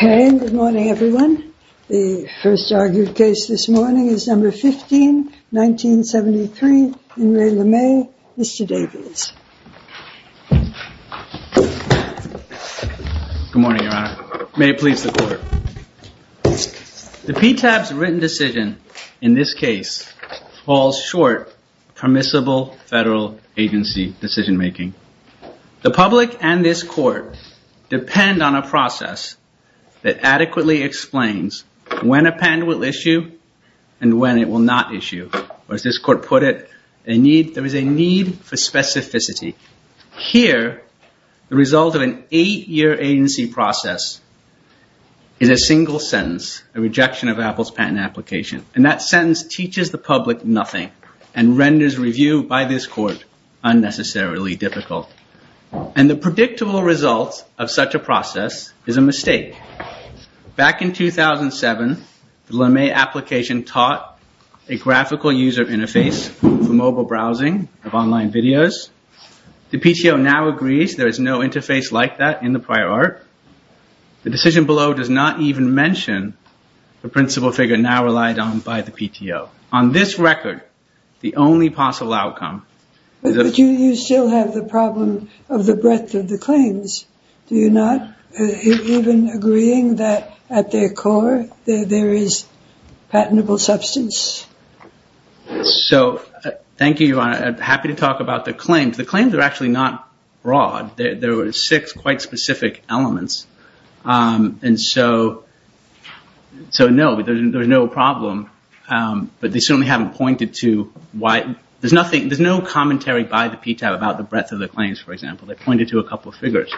Good morning everyone. The first argued case this morning is number 15, 1973, in Re Lemay, Mr. Davies. Good morning Your Honor. May it please the Court. The PTAB's written decision in this case falls short of permissible federal agency decision making. The public and this Court depend on a process that adequately explains when a patent will issue and when it will not issue. As this Court put it, there is a need for specificity. Here, the result of an eight-year agency process is a single sentence, a rejection of Apple's patent application. And that sentence teaches the public nothing and renders review by this Court unnecessarily difficult. And the predictable result of such a process is a mistake. Back in 2007, the Lemay application taught a graphical user interface for mobile browsing of online videos. The PTO now agrees there is no interface like that in the prior art. The decision below does not even mention the principle figure now relied on by the PTO. On this record, the only possible outcome is that... But you still have the problem of the breadth of the claims. Do you not? Even agreeing that at their core there is patentable substance? So, thank you Your Honor. I'm happy to talk about the claims. The claims are actually not broad. There were six quite specific elements. And so, no, there's no problem. But they certainly haven't pointed to why... There's no commentary by the PTO about the breadth of the claims, for example. They pointed to a couple of figures.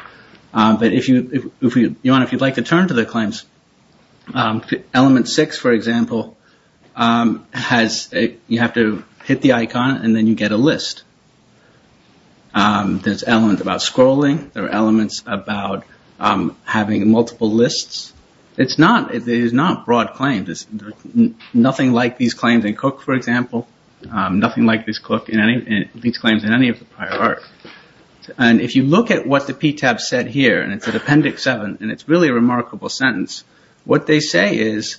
But Your Honor, if you'd like to turn to the claims, element six, for example, has... you have to hit the icon and then you get a list. There's elements about scrolling. There are elements about having multiple lists. It's not... it is not broad claims. There's nothing like these claims in Cook, for example. Nothing like these claims in any of the prior art. And if you look at what the PTAB said here, and it's at appendix seven, and it's really a remarkable sentence, what they say is,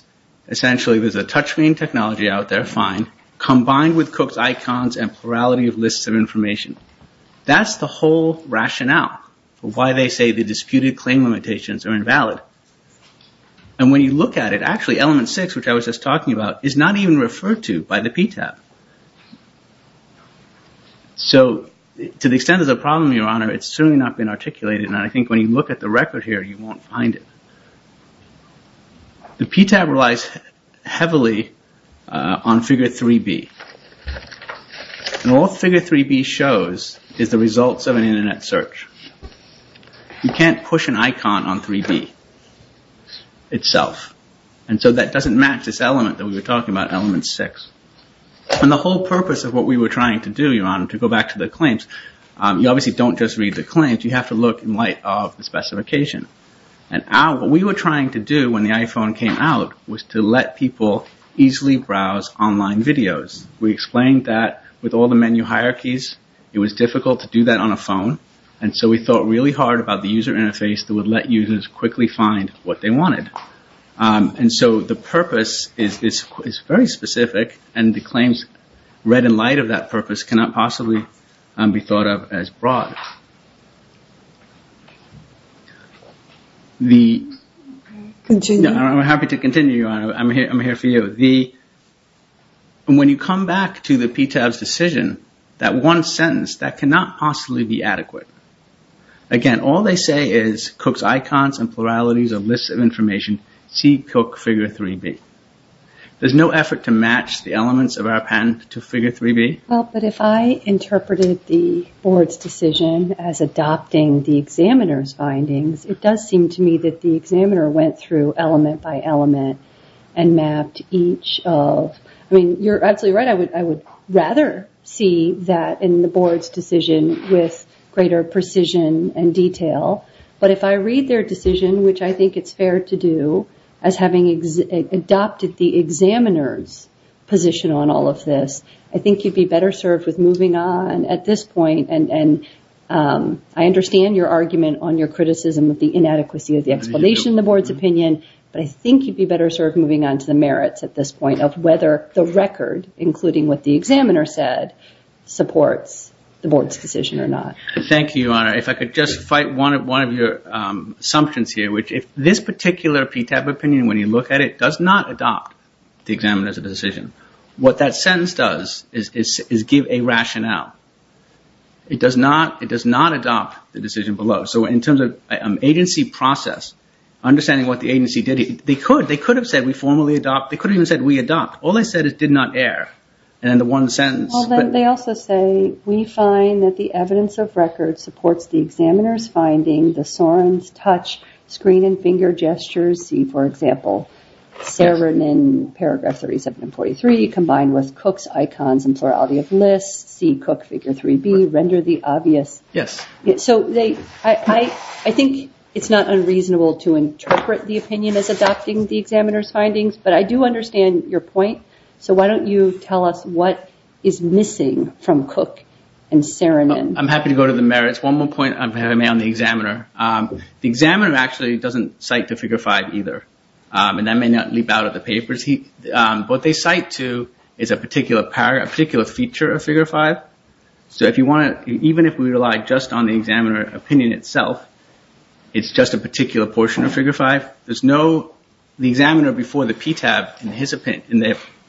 essentially there's a touch screen technology out there, fine, combined with Cook's icons and plurality of lists of information. That's the whole rationale for why they say the disputed claim limitations are invalid. And when you look at it, actually element six, which I was just talking about, is not even referred to by the PTAB. So, to the extent there's a problem, Your Honor, it's certainly not been articulated. And I think when you look at the record here, you won't find it. The PTAB relies heavily on figure 3B. And what figure 3B shows is the results of an Internet search. You can't push an icon on 3B itself. And so that doesn't match this element that we were talking about, element six. And the whole purpose of what we were trying to do, Your Honor, to go back to the claims, you obviously don't just read the claims. You have to look in light of the specification. And what we were trying to do when the iPhone came out was to let people easily browse online videos. We explained that with all the menu hierarchies, it was difficult to do that on a phone. And so we thought really hard about the user interface that would let users quickly find what they wanted. And so the purpose is very specific. And the claims read in light of that purpose cannot possibly be thought of as broad. I'm happy to continue, Your Honor. I'm here for you. When you come back to the PTAB's decision, that one sentence, that cannot possibly be adequate. Again, all they say is Cook's icons and pluralities of lists of information see Cook figure 3B. There's no effort to match the elements of our patent to figure 3B. Well, but if I interpreted the board's decision as adopting the examiner's findings, it does seem to me that the examiner went through element by element and mapped each of. I mean, you're absolutely right. I would rather see that in the board's decision with greater precision and detail. But if I read their decision, which I think it's fair to do, as having adopted the examiner's position on all of this, I think you'd be better served with moving on at this point. And I understand your argument on your criticism of the inadequacy of the explanation in the board's opinion. But I think you'd be better served moving on to the merits at this point of whether the record, including what the examiner said, supports the board's decision or not. Thank you, Your Honor. If I could just fight one of your assumptions here, which if this particular PTAP opinion, when you look at it, does not adopt the examiner's decision, what that sentence does is give a rationale. It does not adopt the decision below. So in terms of agency process, understanding what the agency did, they could have said we formally adopt. They could have even said we adopt. All they said is did not err in the one sentence. Well, then they also say we find that the evidence of record supports the examiner's finding, the Soren's touch, screen and finger gestures, see, for example, Sarah written in paragraph 37 and 43 combined with Cook's icons and plurality of lists, see Cook figure 3B, render the obvious. Yes. So I think it's not unreasonable to interpret the opinion as adopting the examiner's findings. But I do understand your point. So why don't you tell us what is missing from Cook and Saramin. I'm happy to go to the merits. One more point I'm going to make on the examiner. The examiner actually doesn't cite the figure 5 either. And that may not leap out of the papers. What they cite to is a particular feature of figure 5. So even if we rely just on the examiner opinion itself, it's just a particular portion of figure 5. The examiner before the PTAB in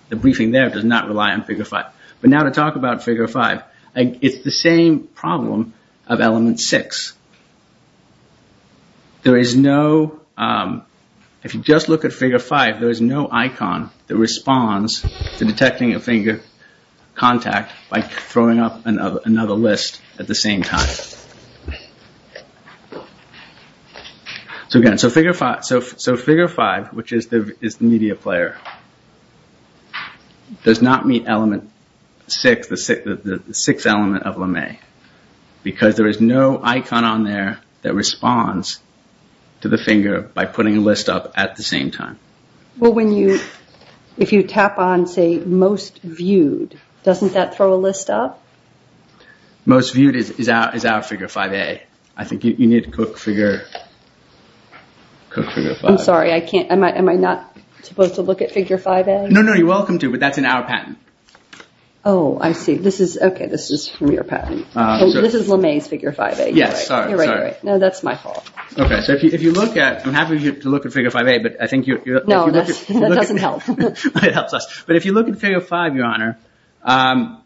the briefing there does not rely on figure 5. But now to talk about figure 5. It's the same problem of element 6. There is no, if you just look at figure 5, there is no icon that responds to detecting a finger contact by throwing up another list at the same time. So again, figure 5, which is the media player, does not meet element 6, the 6th element of LeMay. Because there is no icon on there that responds to the finger by putting a list up at the same time. Well, if you tap on, say, most viewed, doesn't that throw a list up? Most viewed is our figure 5A. I think you need to cook figure 5. I'm sorry, am I not supposed to look at figure 5A? No, no, you're welcome to, but that's in our patent. Oh, I see. Okay, this is from your patent. This is LeMay's figure 5A. Yes, sorry, sorry. You're right, you're right. No, that's my fault. Okay, so if you look at, I'm happy for you to look at figure 5A. No, that doesn't help. It helps us. But if you look at figure 5, Your Honor,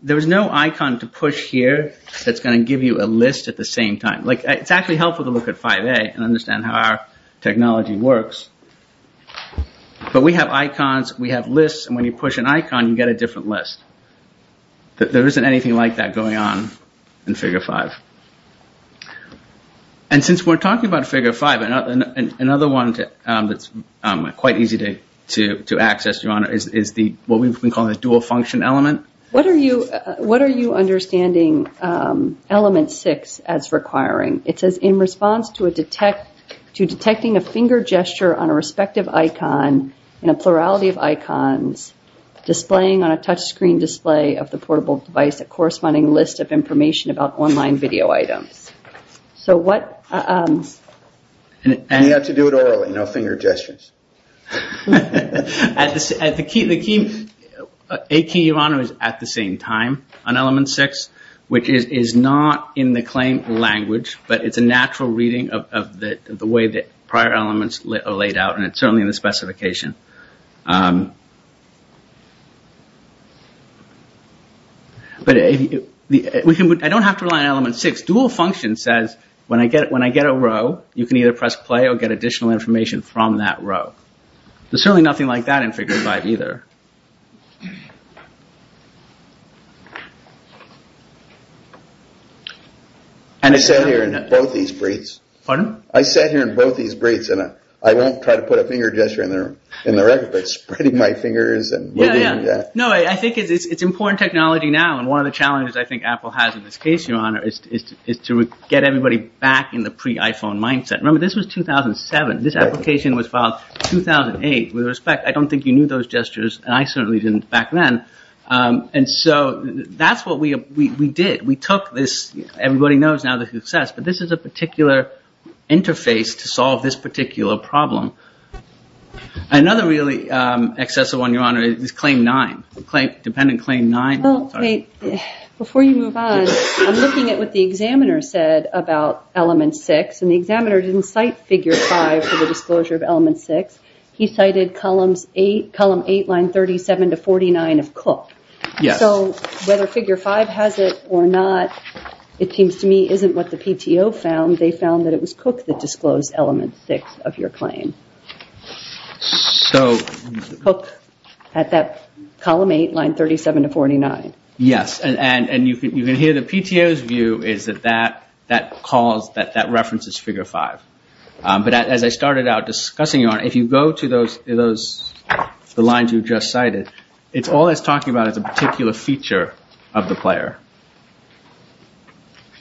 there is no icon to push here that's going to give you a list at the same time. It's actually helpful to look at 5A and understand how our technology works. But we have icons, we have lists, and when you push an icon, you get a different list. There isn't anything like that going on in figure 5. And since we're talking about figure 5, another one that's quite easy to access, Your Honor, is what we call the dual function element. What are you understanding element 6 as requiring? It says, in response to detecting a finger gesture on a respective icon in a plurality of icons, displaying on a touchscreen display of the portable device a corresponding list of information about online video items. So what... And you have to do it orally, no finger gestures. The key, Your Honor, is at the same time on element 6, which is not in the claimed language, but it's a natural reading of the way that prior elements are laid out, and it's certainly in the specification. But I don't have to rely on element 6. Dual function says, when I get a row, you can either press play or get additional information from that row. There's certainly nothing like that in figure 5 either. I sat here in both these briefs. Pardon? I sat here in both these briefs, and I won't try to put a finger gesture in the record, but spreading my fingers... No, I think it's important technology now, and one of the challenges I think Apple has in this case, Your Honor, is to get everybody back in the pre-iPhone mindset. Remember, this was 2007. This application was filed 2008. With respect, I don't think you knew those gestures, and I certainly didn't back then. And so that's what we did. We took this. Everybody knows now the success, but this is a particular interface to solve this particular problem. Another really excessive one, Your Honor, is claim 9, dependent claim 9. Before you move on, I'm looking at what the examiner said about element 6, and the examiner didn't cite figure 5 for the disclosure of element 6. He cited column 8, line 37 to 49 of Cook. Yes. So whether figure 5 has it or not, it seems to me isn't what the PTO found. They found that it was Cook that disclosed element 6 of your claim. So... Cook at that column 8, line 37 to 49. Yes, and you can hear the PTO's view is that that calls, that references figure 5. But as I started out discussing, Your Honor, if you go to those, the lines you just cited, it's all it's talking about is a particular feature of the player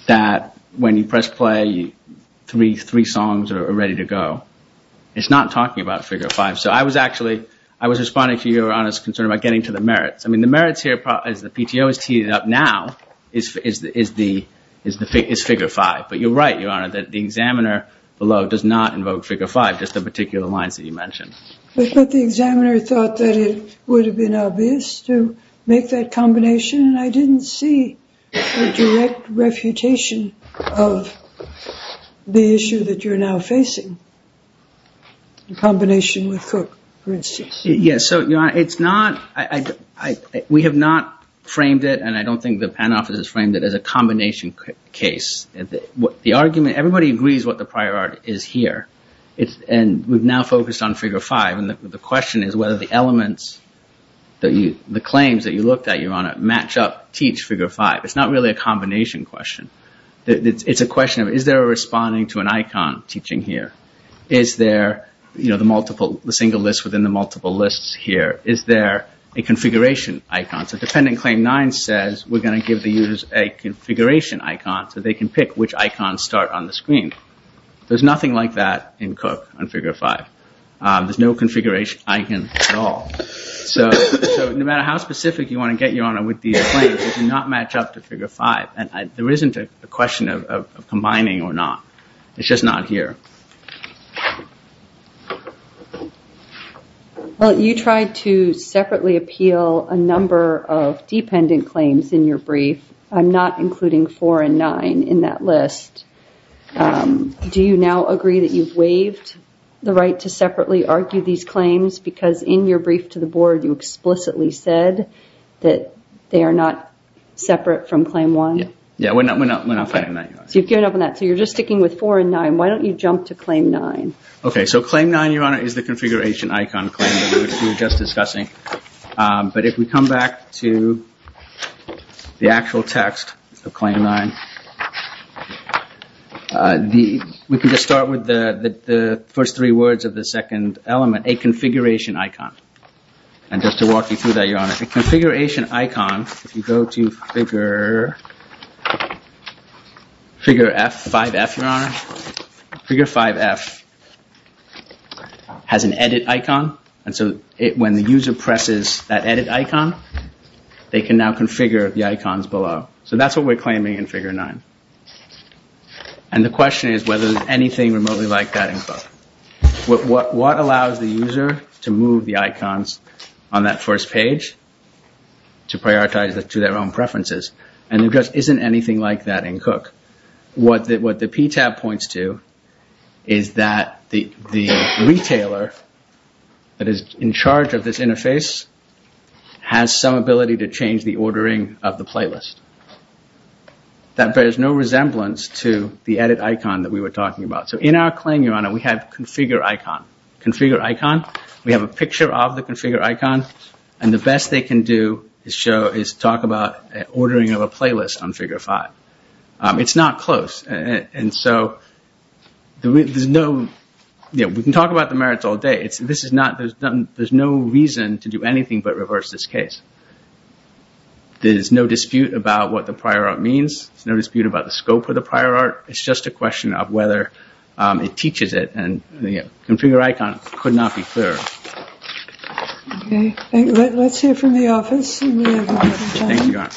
that when you press play, three songs are ready to go. It's not talking about figure 5. So I was actually, I was responding to Your Honor's concern about getting to the merits. I mean, the merits here, as the PTO has teed it up now, is figure 5. But you're right, Your Honor, that the examiner below does not invoke figure 5, just the particular lines that you mentioned. But the examiner thought that it would have been obvious to make that combination, and I didn't see a direct refutation of the issue that you're now facing in combination with Cook, for instance. Yes, so Your Honor, it's not, we have not framed it, and I don't think the PAN office has framed it as a combination case. The argument, everybody agrees what the prior art is here, and we've now focused on figure 5. And the question is whether the elements, the claims that you looked at, Your Honor, match up, teach figure 5. It's not really a combination question. It's a question of is there a responding to an icon teaching here? Is there the single list within the multiple lists here? Is there a configuration icon? So dependent claim 9 says we're going to give the users a configuration icon so they can pick which icons start on the screen. There's nothing like that in Cook on figure 5. There's no configuration icon at all. So no matter how specific you want to get, Your Honor, with these claims, they do not match up to figure 5. And there isn't a question of combining or not. It's just not here. Well, you tried to separately appeal a number of dependent claims in your brief. I'm not including 4 and 9 in that list. Do you now agree that you've waived the right to separately argue these claims? Because in your brief to the board, you explicitly said that they are not separate from claim 1. Yeah, we're not fighting that, Your Honor. So you've given up on that. So you're just sticking with 4 and 9. Why don't you jump to claim 9? Okay, so claim 9, Your Honor, is the configuration icon claim that we were just discussing. But if we come back to the actual text of claim 9, we can just start with the first three words of the second element, a configuration icon. And just to walk you through that, Your Honor, a configuration icon, if you go to figure 5F, Your Honor, figure 5F has an edit icon. And so when the user presses that edit icon, they can now configure the icons below. So that's what we're claiming in figure 9. And the question is whether there's anything remotely like that involved. What allows the user to move the icons on that first page to prioritize to their own preferences? And there just isn't anything like that in Cook. What the PTAB points to is that the retailer that is in charge of this interface has some ability to change the ordering of the playlist. That bears no resemblance to the edit icon that we were talking about. So in our claim, Your Honor, we have configure icon. Configure icon, we have a picture of the configure icon. And the best they can do is talk about ordering of a playlist on figure 5. It's not close. And so we can talk about the merits all day. There's no reason to do anything but reverse this case. There's no dispute about what the prior art means. There's no dispute about the scope of the prior art. It's just a question of whether it teaches it. And the configure icon could not be clearer. Okay. Let's hear from the office. Thank you, Your Honor.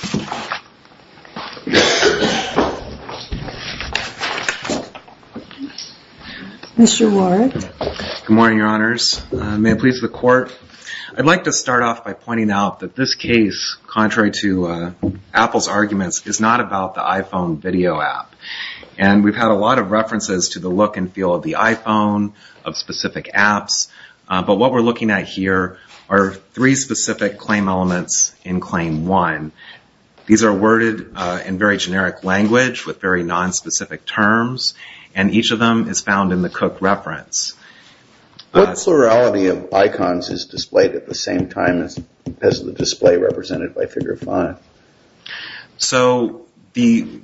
Mr. Warrick. Good morning, Your Honors. May it please the Court. I'd like to start off by pointing out that this case, contrary to Apple's arguments, is not about the iPhone video app. And we've had a lot of references to the look and feel of the iPhone, of specific apps. But what we're looking at here are three specific claim elements in Claim 1. These are worded in very generic language with very nonspecific terms. And each of them is found in the Cook reference. What plurality of icons is displayed at the same time as the display represented by Figure 5? So the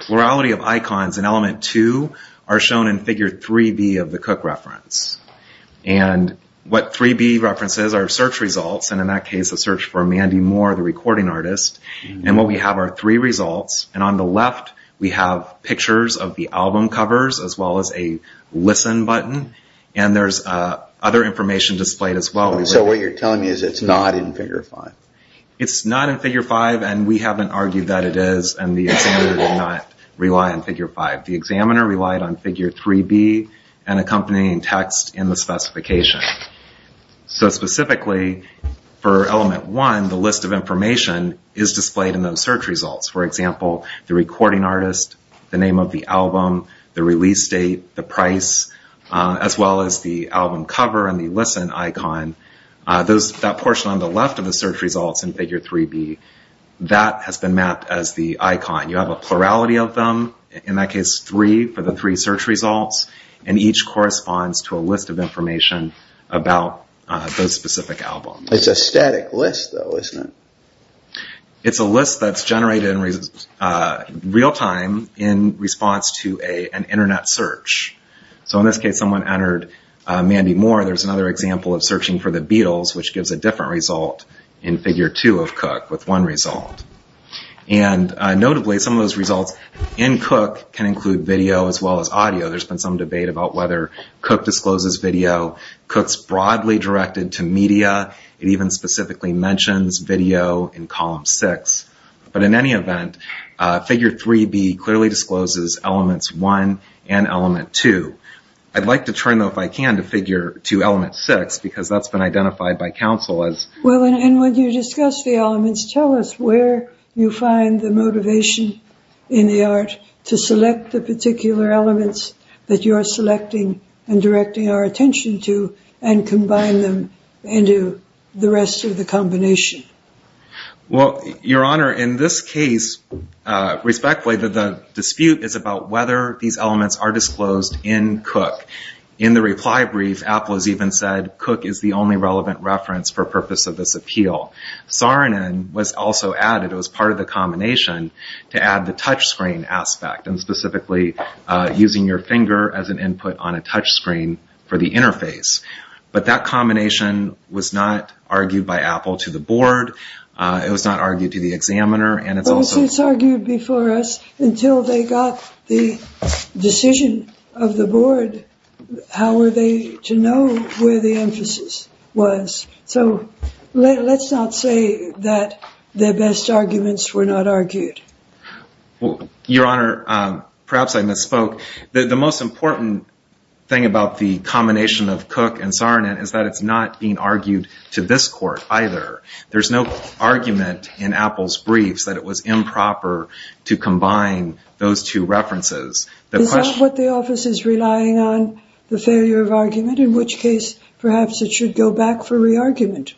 plurality of icons in Element 2 are shown in Figure 3B of the Cook reference. And what 3B references are search results, and in that case a search for Mandy Moore, the recording artist. And what we have are three results. And on the left we have pictures of the album covers as well as a listen button. And there's other information displayed as well. So what you're telling me is it's not in Figure 5? It's not in Figure 5, and we haven't argued that it is, and the examiner did not rely on Figure 5. The examiner relied on Figure 3B and accompanying text in the specification. So specifically for Element 1, the list of information is displayed in those search results. For example, the recording artist, the name of the album, the release date, the price, as well as the album cover and the listen icon. That portion on the left of the search results in Figure 3B, that has been mapped as the icon. You have a plurality of them, in that case three for the three search results, and each corresponds to a list of information about those specific albums. It's a static list, though, isn't it? It's a list that's generated in real time in response to an Internet search. So in this case, someone entered Mandy Moore. There's another example of searching for The Beatles, which gives a different result in Figure 2 of Cook with one result. And notably, some of those results in Cook can include video as well as audio. There's been some debate about whether Cook discloses video. Cook's broadly directed to media. It even specifically mentions video in Column 6. But in any event, Figure 3B clearly discloses Elements 1 and Element 2. I'd like to turn, though, if I can, to Figure 2, Element 6, because that's been identified by Council as... Well, and when you discuss the elements, tell us where you find the motivation in the art to select the particular elements that you are selecting and directing our attention to and combine them into the rest of the combination. Well, Your Honor, in this case, respectfully, the dispute is about whether these elements are disclosed in Cook. In the reply brief, Apple has even said, Cook is the only relevant reference for purpose of this appeal. Saarinen was also added as part of the combination to add the touchscreen aspect and specifically using your finger as an input on a touchscreen for the interface. But that combination was not argued by Apple to the board. It was not argued to the examiner, and it's also... Well, it was argued before us until they got the decision of the board. How were they to know where the emphasis was? So let's not say that their best arguments were not argued. Well, Your Honor, perhaps I misspoke. The most important thing about the combination of Cook and Saarinen is that it's not being argued to this court either. There's no argument in Apple's briefs that it was improper to combine those two references. Is that what the office is relying on, the failure of argument? In which case, perhaps it should go back for re-argument.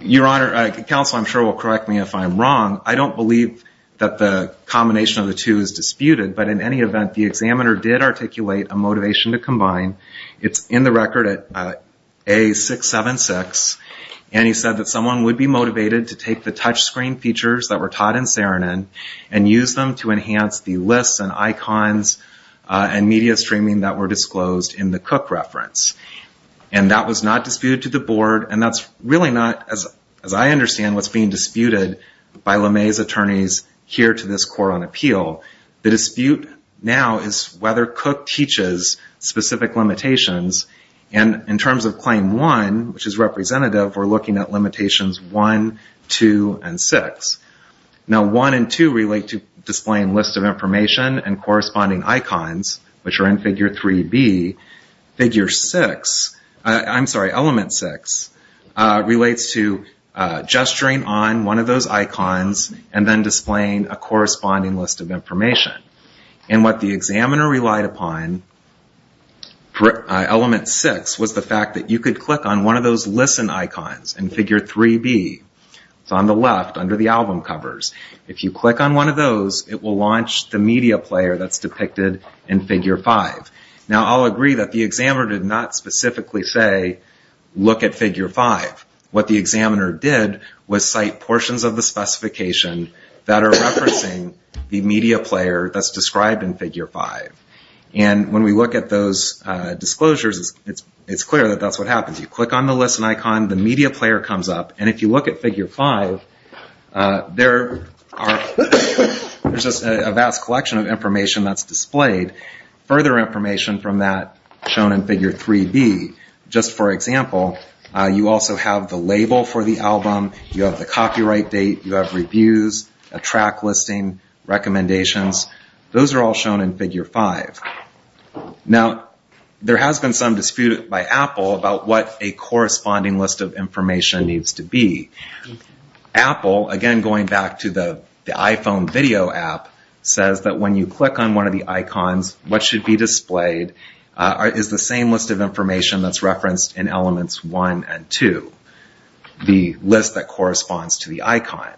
Your Honor, counsel I'm sure will correct me if I'm wrong. I don't believe that the combination of the two is disputed, but in any event, the examiner did articulate a motivation to combine. It's in the record at A676, and he said that someone would be motivated to take the touchscreen features that were taught in Saarinen and use them to enhance the lists and icons and media streaming that were disclosed in the Cook reference. And that was not disputed to the board, and that's really not, as I understand, what's being disputed by LeMay's attorneys here to this court on appeal. The dispute now is whether Cook teaches specific limitations. And in terms of Claim 1, which is representative, we're looking at Limitations 1, 2, and 6. Now 1 and 2 relate to displaying lists of information and corresponding icons, which are in Figure 3B. Element 6 relates to gesturing on one of those icons and then displaying a corresponding list of information. And what the examiner relied upon, Element 6, was the fact that you could click on one of those listen icons in Figure 3B. It's on the left under the album covers. If you click on one of those, it will launch the media player that's depicted in Figure 5. Now I'll agree that the examiner did not specifically say, look at Figure 5. What the examiner did was cite portions of the specification that are referencing the media player that's described in Figure 5. And when we look at those disclosures, it's clear that that's what happens. You click on the listen icon, the media player comes up, and if you look at Figure 5, there's just a vast collection of information that's displayed. Further information from that shown in Figure 3B. Just for example, you also have the label for the album, you have the copyright date, you have reviews, a track listing, recommendations. Those are all shown in Figure 5. Now there has been some dispute by Apple about what a corresponding list of information needs to be. Apple, again going back to the iPhone video app, says that when you click on one of the icons, what should be displayed is the same list of information that's referenced in Elements 1 and 2, the list that corresponds to the icon.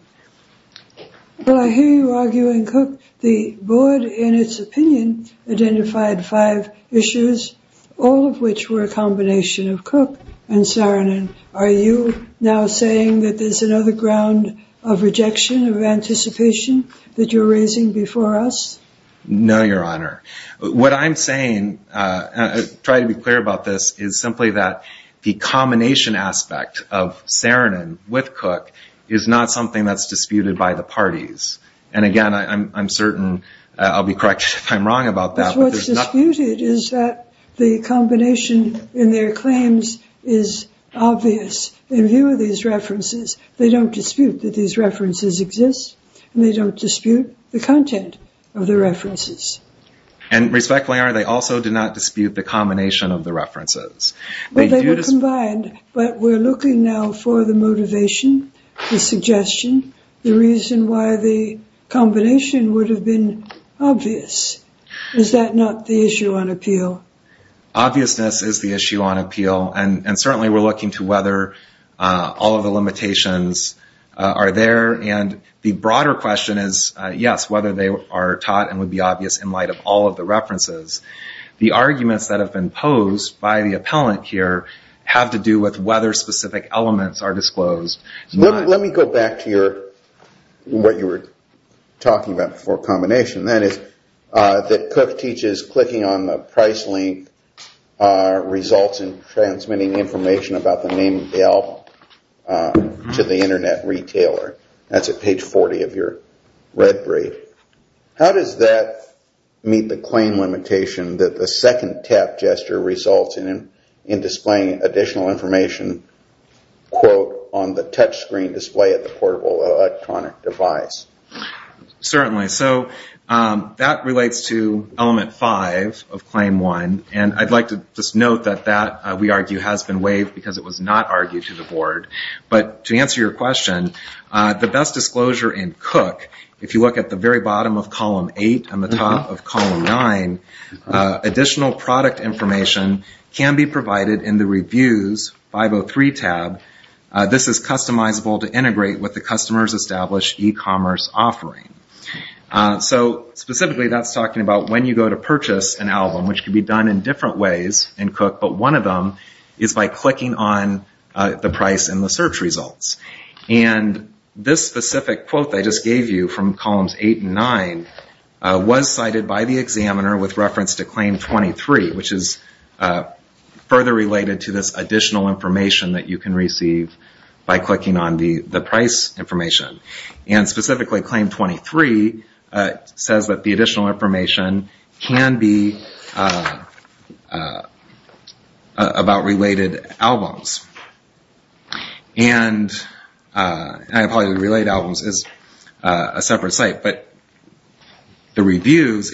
Well, I hear you arguing, Cook. The board, in its opinion, identified five issues, all of which were a combination of Cook and Saarinen. Are you now saying that there's another ground of rejection, of anticipation, that you're raising before us? No, Your Honor. What I'm saying, trying to be clear about this, is simply that the combination aspect of Saarinen with Cook is not something that's disputed by the parties. And again, I'm certain I'll be corrected if I'm wrong about that. What's disputed is that the combination in their claims is obvious. In view of these references, they don't dispute that these references exist, and they don't dispute the content of the references. And respectfully, Your Honor, they also did not dispute the combination of the references. But they were combined. But we're looking now for the motivation, the suggestion, the reason why the combination would have been obvious, is that not the issue on appeal? Obviousness is the issue on appeal, and certainly we're looking to whether all of the limitations are there. And the broader question is, yes, whether they are taught and would be obvious in light of all of the references. The arguments that have been posed by the appellant here have to do with whether specific elements are disclosed. Let me go back to what you were talking about before, combination. That is, that Cook teaches clicking on the price link results in transmitting information about the name of the album to the internet retailer. That's at page 40 of your red brief. How does that meet the claim limitation that the second tap gesture results in displaying additional information on the touchscreen display of the portable electronic device? Certainly. So that relates to element five of claim one. And I'd like to just note that that, we argue, has been waived because it was not argued to the board. But to answer your question, the best disclosure in Cook, if you look at the very bottom of column eight and the top of column nine, additional product information can be provided in the reviews 503 tab. This is customizable to integrate with the customer's established e-commerce offering. So specifically that's talking about when you go to purchase an album, which can be done in different ways in Cook, but one of them is by clicking on the price in the search results. And this specific quote that I just gave you from columns eight and nine was cited by the examiner with reference to claim 23, which is further related to this additional information that you can receive by clicking on the price information. And specifically claim 23 says that the additional information can be about related albums. And I apologize, related albums is a separate site, but the reviews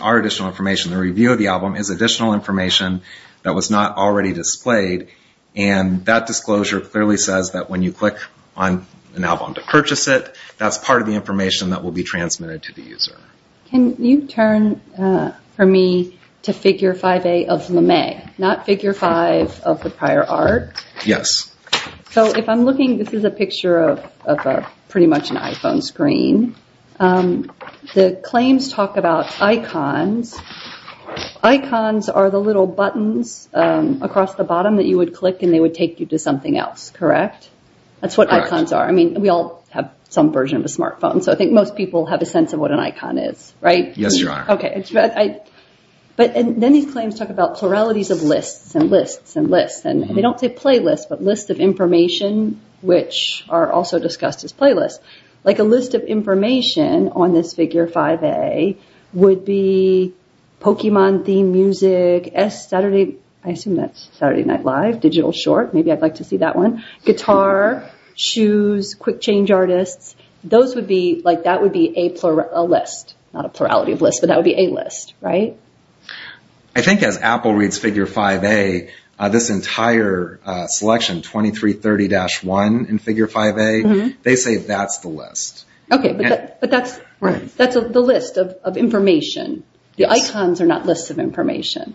are additional information. The review of the album is additional information that was not already displayed and that disclosure clearly says that when you click on an album to purchase it, that's part of the information that will be transmitted to the user. Can you turn for me to figure 5A of LeMay, not figure five of the prior art? Yes. So if I'm looking, this is a picture of pretty much an iPhone screen. The claims talk about icons. Icons are the little buttons across the bottom that you would click and they would take you to something else, correct? That's what icons are. I mean, we all have some version of a smartphone, so I think most people have a sense of what an icon is, right? Yes, you are. But then these claims talk about pluralities of lists and lists and lists, and they don't say playlists, but lists of information, which are also discussed as playlists. Like a list of information on this figure 5A would be Pokemon theme music, I assume that's Saturday Night Live, digital short, maybe I'd like to see that one, guitar, shoes, quick change artists. That would be a list, not a plurality of lists, but that would be a list, right? I think as Apple reads figure 5A, this entire selection, 2330-1 in figure 5A, they say that's the list. Okay, but that's the list of information. The icons are not lists of information.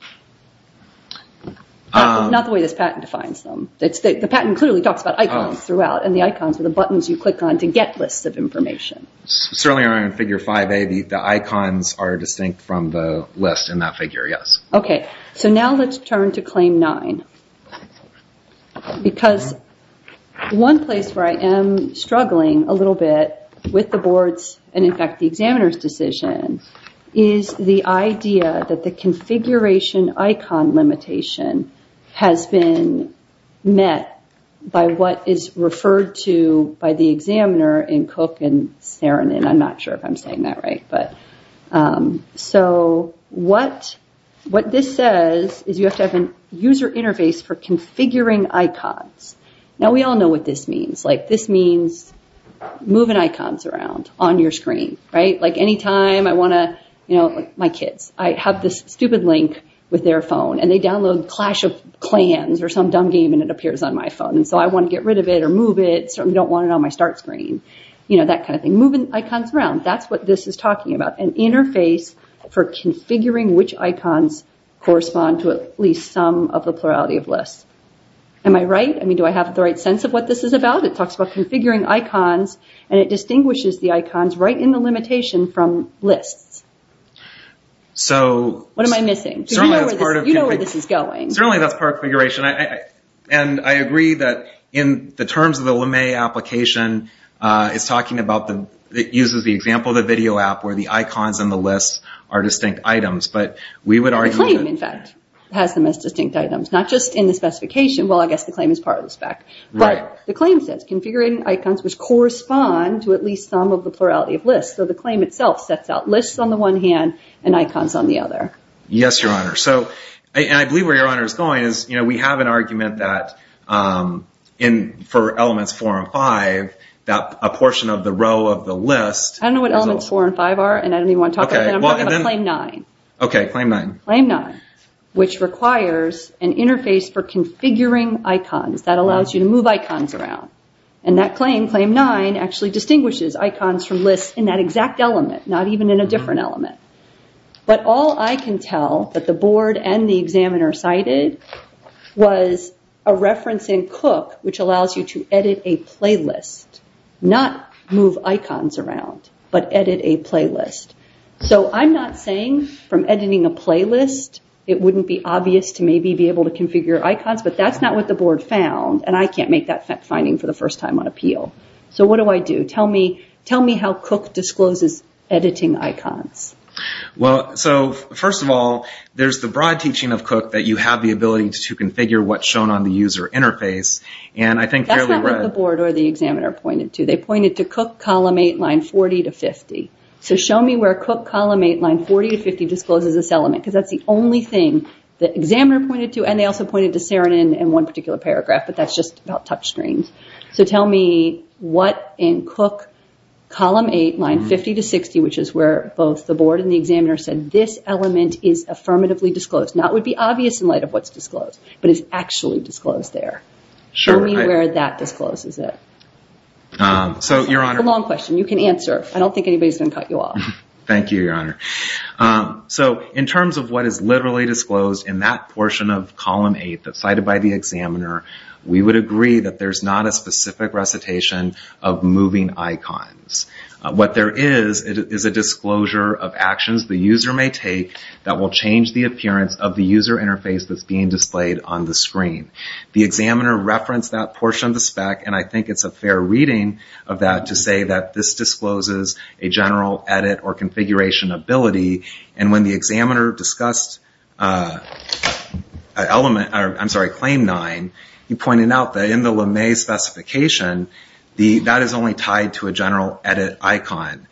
Not the way this patent defines them. The patent clearly talks about icons throughout, and the icons are the buttons you click on to get lists of information. Certainly on figure 5A, the icons are distinct from the list in that figure, yes. Okay, so now let's turn to claim 9. Because one place where I am struggling a little bit with the board's, and in fact the examiner's decision, is the idea that the configuration icon limitation has been met by what is referred to by the examiner in Cook and Saarinen. I'm not sure if I'm saying that right. So what this says is you have to have a user interface for configuring icons. Now we all know what this means. This means moving icons around on your screen, right? Like any time I want to, you know, like my kids. I have this stupid link with their phone, and they download Clash of Clans or some dumb game and it appears on my phone, and so I want to get rid of it or move it. Certainly don't want it on my start screen. You know, that kind of thing. Moving icons around. That's what this is talking about. An interface for configuring which icons correspond to at least some of the plurality of lists. Am I right? I mean, do I have the right sense of what this is about? It talks about configuring icons, and it distinguishes the icons right in the limitation from lists. What am I missing? You know where this is going. Certainly that's part of configuration. And I agree that in the terms of the LeMay application, it's talking about the—it uses the example of the video app where the icons and the lists are distinct items. But we would argue that— The claim, in fact, has the most distinct items. Not just in the specification. Well, I guess the claim is part of the spec. Right. But the claim says, configuring icons which correspond to at least some of the plurality of lists. So the claim itself sets out lists on the one hand and icons on the other. Yes, Your Honor. And I believe where Your Honor is going is, we have an argument that for Elements 4 and 5, that a portion of the row of the list— I don't know what Elements 4 and 5 are, and I don't even want to talk about that. I'm talking about Claim 9. Okay, Claim 9. Claim 9, which requires an interface for configuring icons that allows you to move icons around. And that claim, Claim 9, actually distinguishes icons from lists in that exact element, not even in a different element. But all I can tell that the board and the examiner cited was a reference in Cook which allows you to edit a playlist, not move icons around, but edit a playlist. So I'm not saying from editing a playlist, it wouldn't be obvious to maybe be able to configure icons, but that's not what the board found, and I can't make that finding for the first time on appeal. So what do I do? Tell me how Cook discloses editing icons. Well, so first of all, there's the broad teaching of Cook that you have the ability to configure what's shown on the user interface, and I think fairly well— That's not what the board or the examiner pointed to. They pointed to Cook Column 8, line 40 to 50. So show me where Cook Column 8, line 40 to 50 discloses this element, because that's the only thing the examiner pointed to, and they also pointed to Seren and one particular paragraph, but that's just about touch screens. So tell me what in Cook Column 8, line 50 to 60, which is where both the board and the examiner said this element is affirmatively disclosed. Now, it would be obvious in light of what's disclosed, but it's actually disclosed there. Show me where that discloses it. So, Your Honor— It's a long question. You can answer. I don't think anybody's going to cut you off. Thank you, Your Honor. So in terms of what is literally disclosed in that portion of Column 8 that's cited by the examiner, we would agree that there's not a specific recitation of moving icons. What there is, is a disclosure of actions the user may take that will change the appearance of the user interface that's being displayed on the screen. The examiner referenced that portion of the spec, and I think it's a fair reading of that to say that this discloses a general edit or configuration ability, and when the examiner discussed Claim 9, he pointed out that in the LeMay specification, that is only tied to a general edit icon.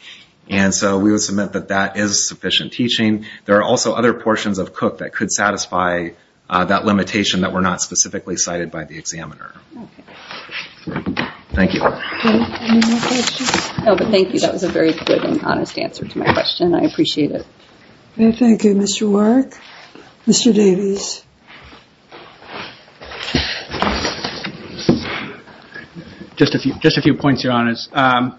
And so we would submit that that is sufficient teaching. There are also other portions of Cook that could satisfy that limitation that were not specifically cited by the examiner. Okay. Thank you. Any more questions? No, but thank you. That was a very good and honest answer to my question. I appreciate it. Thank you, Mr. Warrick. Mr. Davies. Just a few points, Your Honors.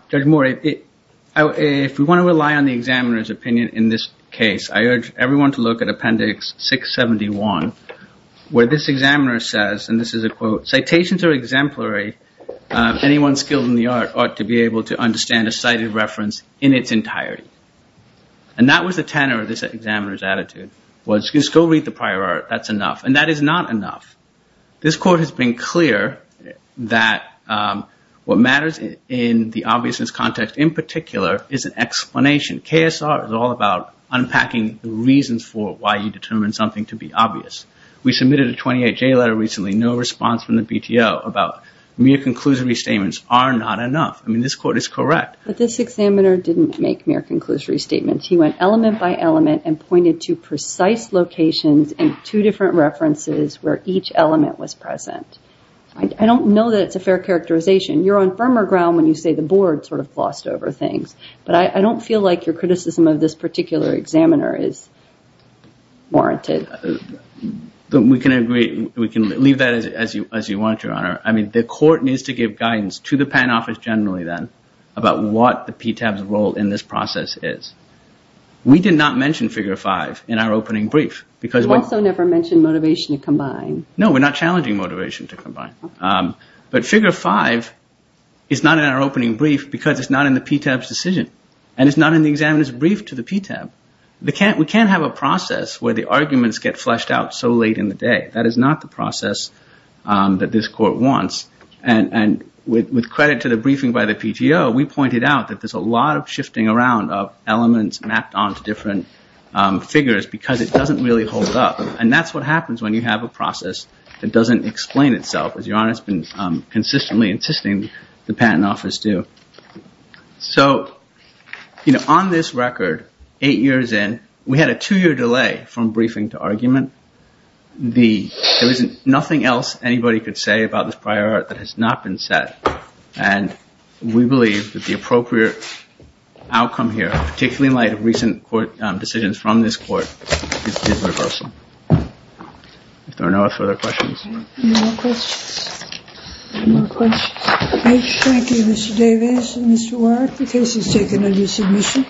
Judge Moore, if we want to rely on the examiner's opinion in this case, I urge everyone to look at Appendix 671, where this examiner says, and this is a quote, Citations are exemplary. Anyone skilled in the art ought to be able to understand a cited reference in its entirety. And that was the tenor of this examiner's attitude, was just go read the prior art. That's enough. And that is not enough. This Court has been clear that what matters in the obviousness context in particular is an explanation. KSR is all about unpacking the reasons for why you determined something to be obvious. We submitted a 28J letter recently. No response from the BTO about mere conclusory statements are not enough. I mean, this Court is correct. But this examiner didn't make mere conclusory statements. He went element by element and pointed to precise locations and two different references where each element was present. I don't know that it's a fair characterization. You're on firmer ground when you say the Board sort of glossed over things. But I don't feel like your criticism of this particular examiner is warranted. We can agree. We can leave that as you want, Your Honor. I mean, the Court needs to give guidance to the PAN office generally then about what the PTAB's role in this process is. We did not mention Figure 5 in our opening brief. We also never mentioned motivation to combine. No, we're not challenging motivation to combine. But Figure 5 is not in our opening brief because it's not in the PTAB's decision and it's not in the examiner's brief to the PTAB. We can't have a process where the arguments get fleshed out so late in the day. That is not the process that this Court wants. And with credit to the briefing by the PTO, we pointed out that there's a lot of shifting around of elements mapped onto different figures because it doesn't really hold up. And that's what happens when you have a process that doesn't explain itself, as Your Honor has been consistently insisting the PAN office do. So, you know, on this record, eight years in, we had a two-year delay from briefing to argument. There was nothing else anybody could say about this prior art that has not been said. And we believe that the appropriate outcome here, particularly in light of recent decisions from this Court, is reversal. If there are no further questions. No more questions. No more questions. Thank you, Mr. Davis and Mr. Warrick. The case is taken under submission.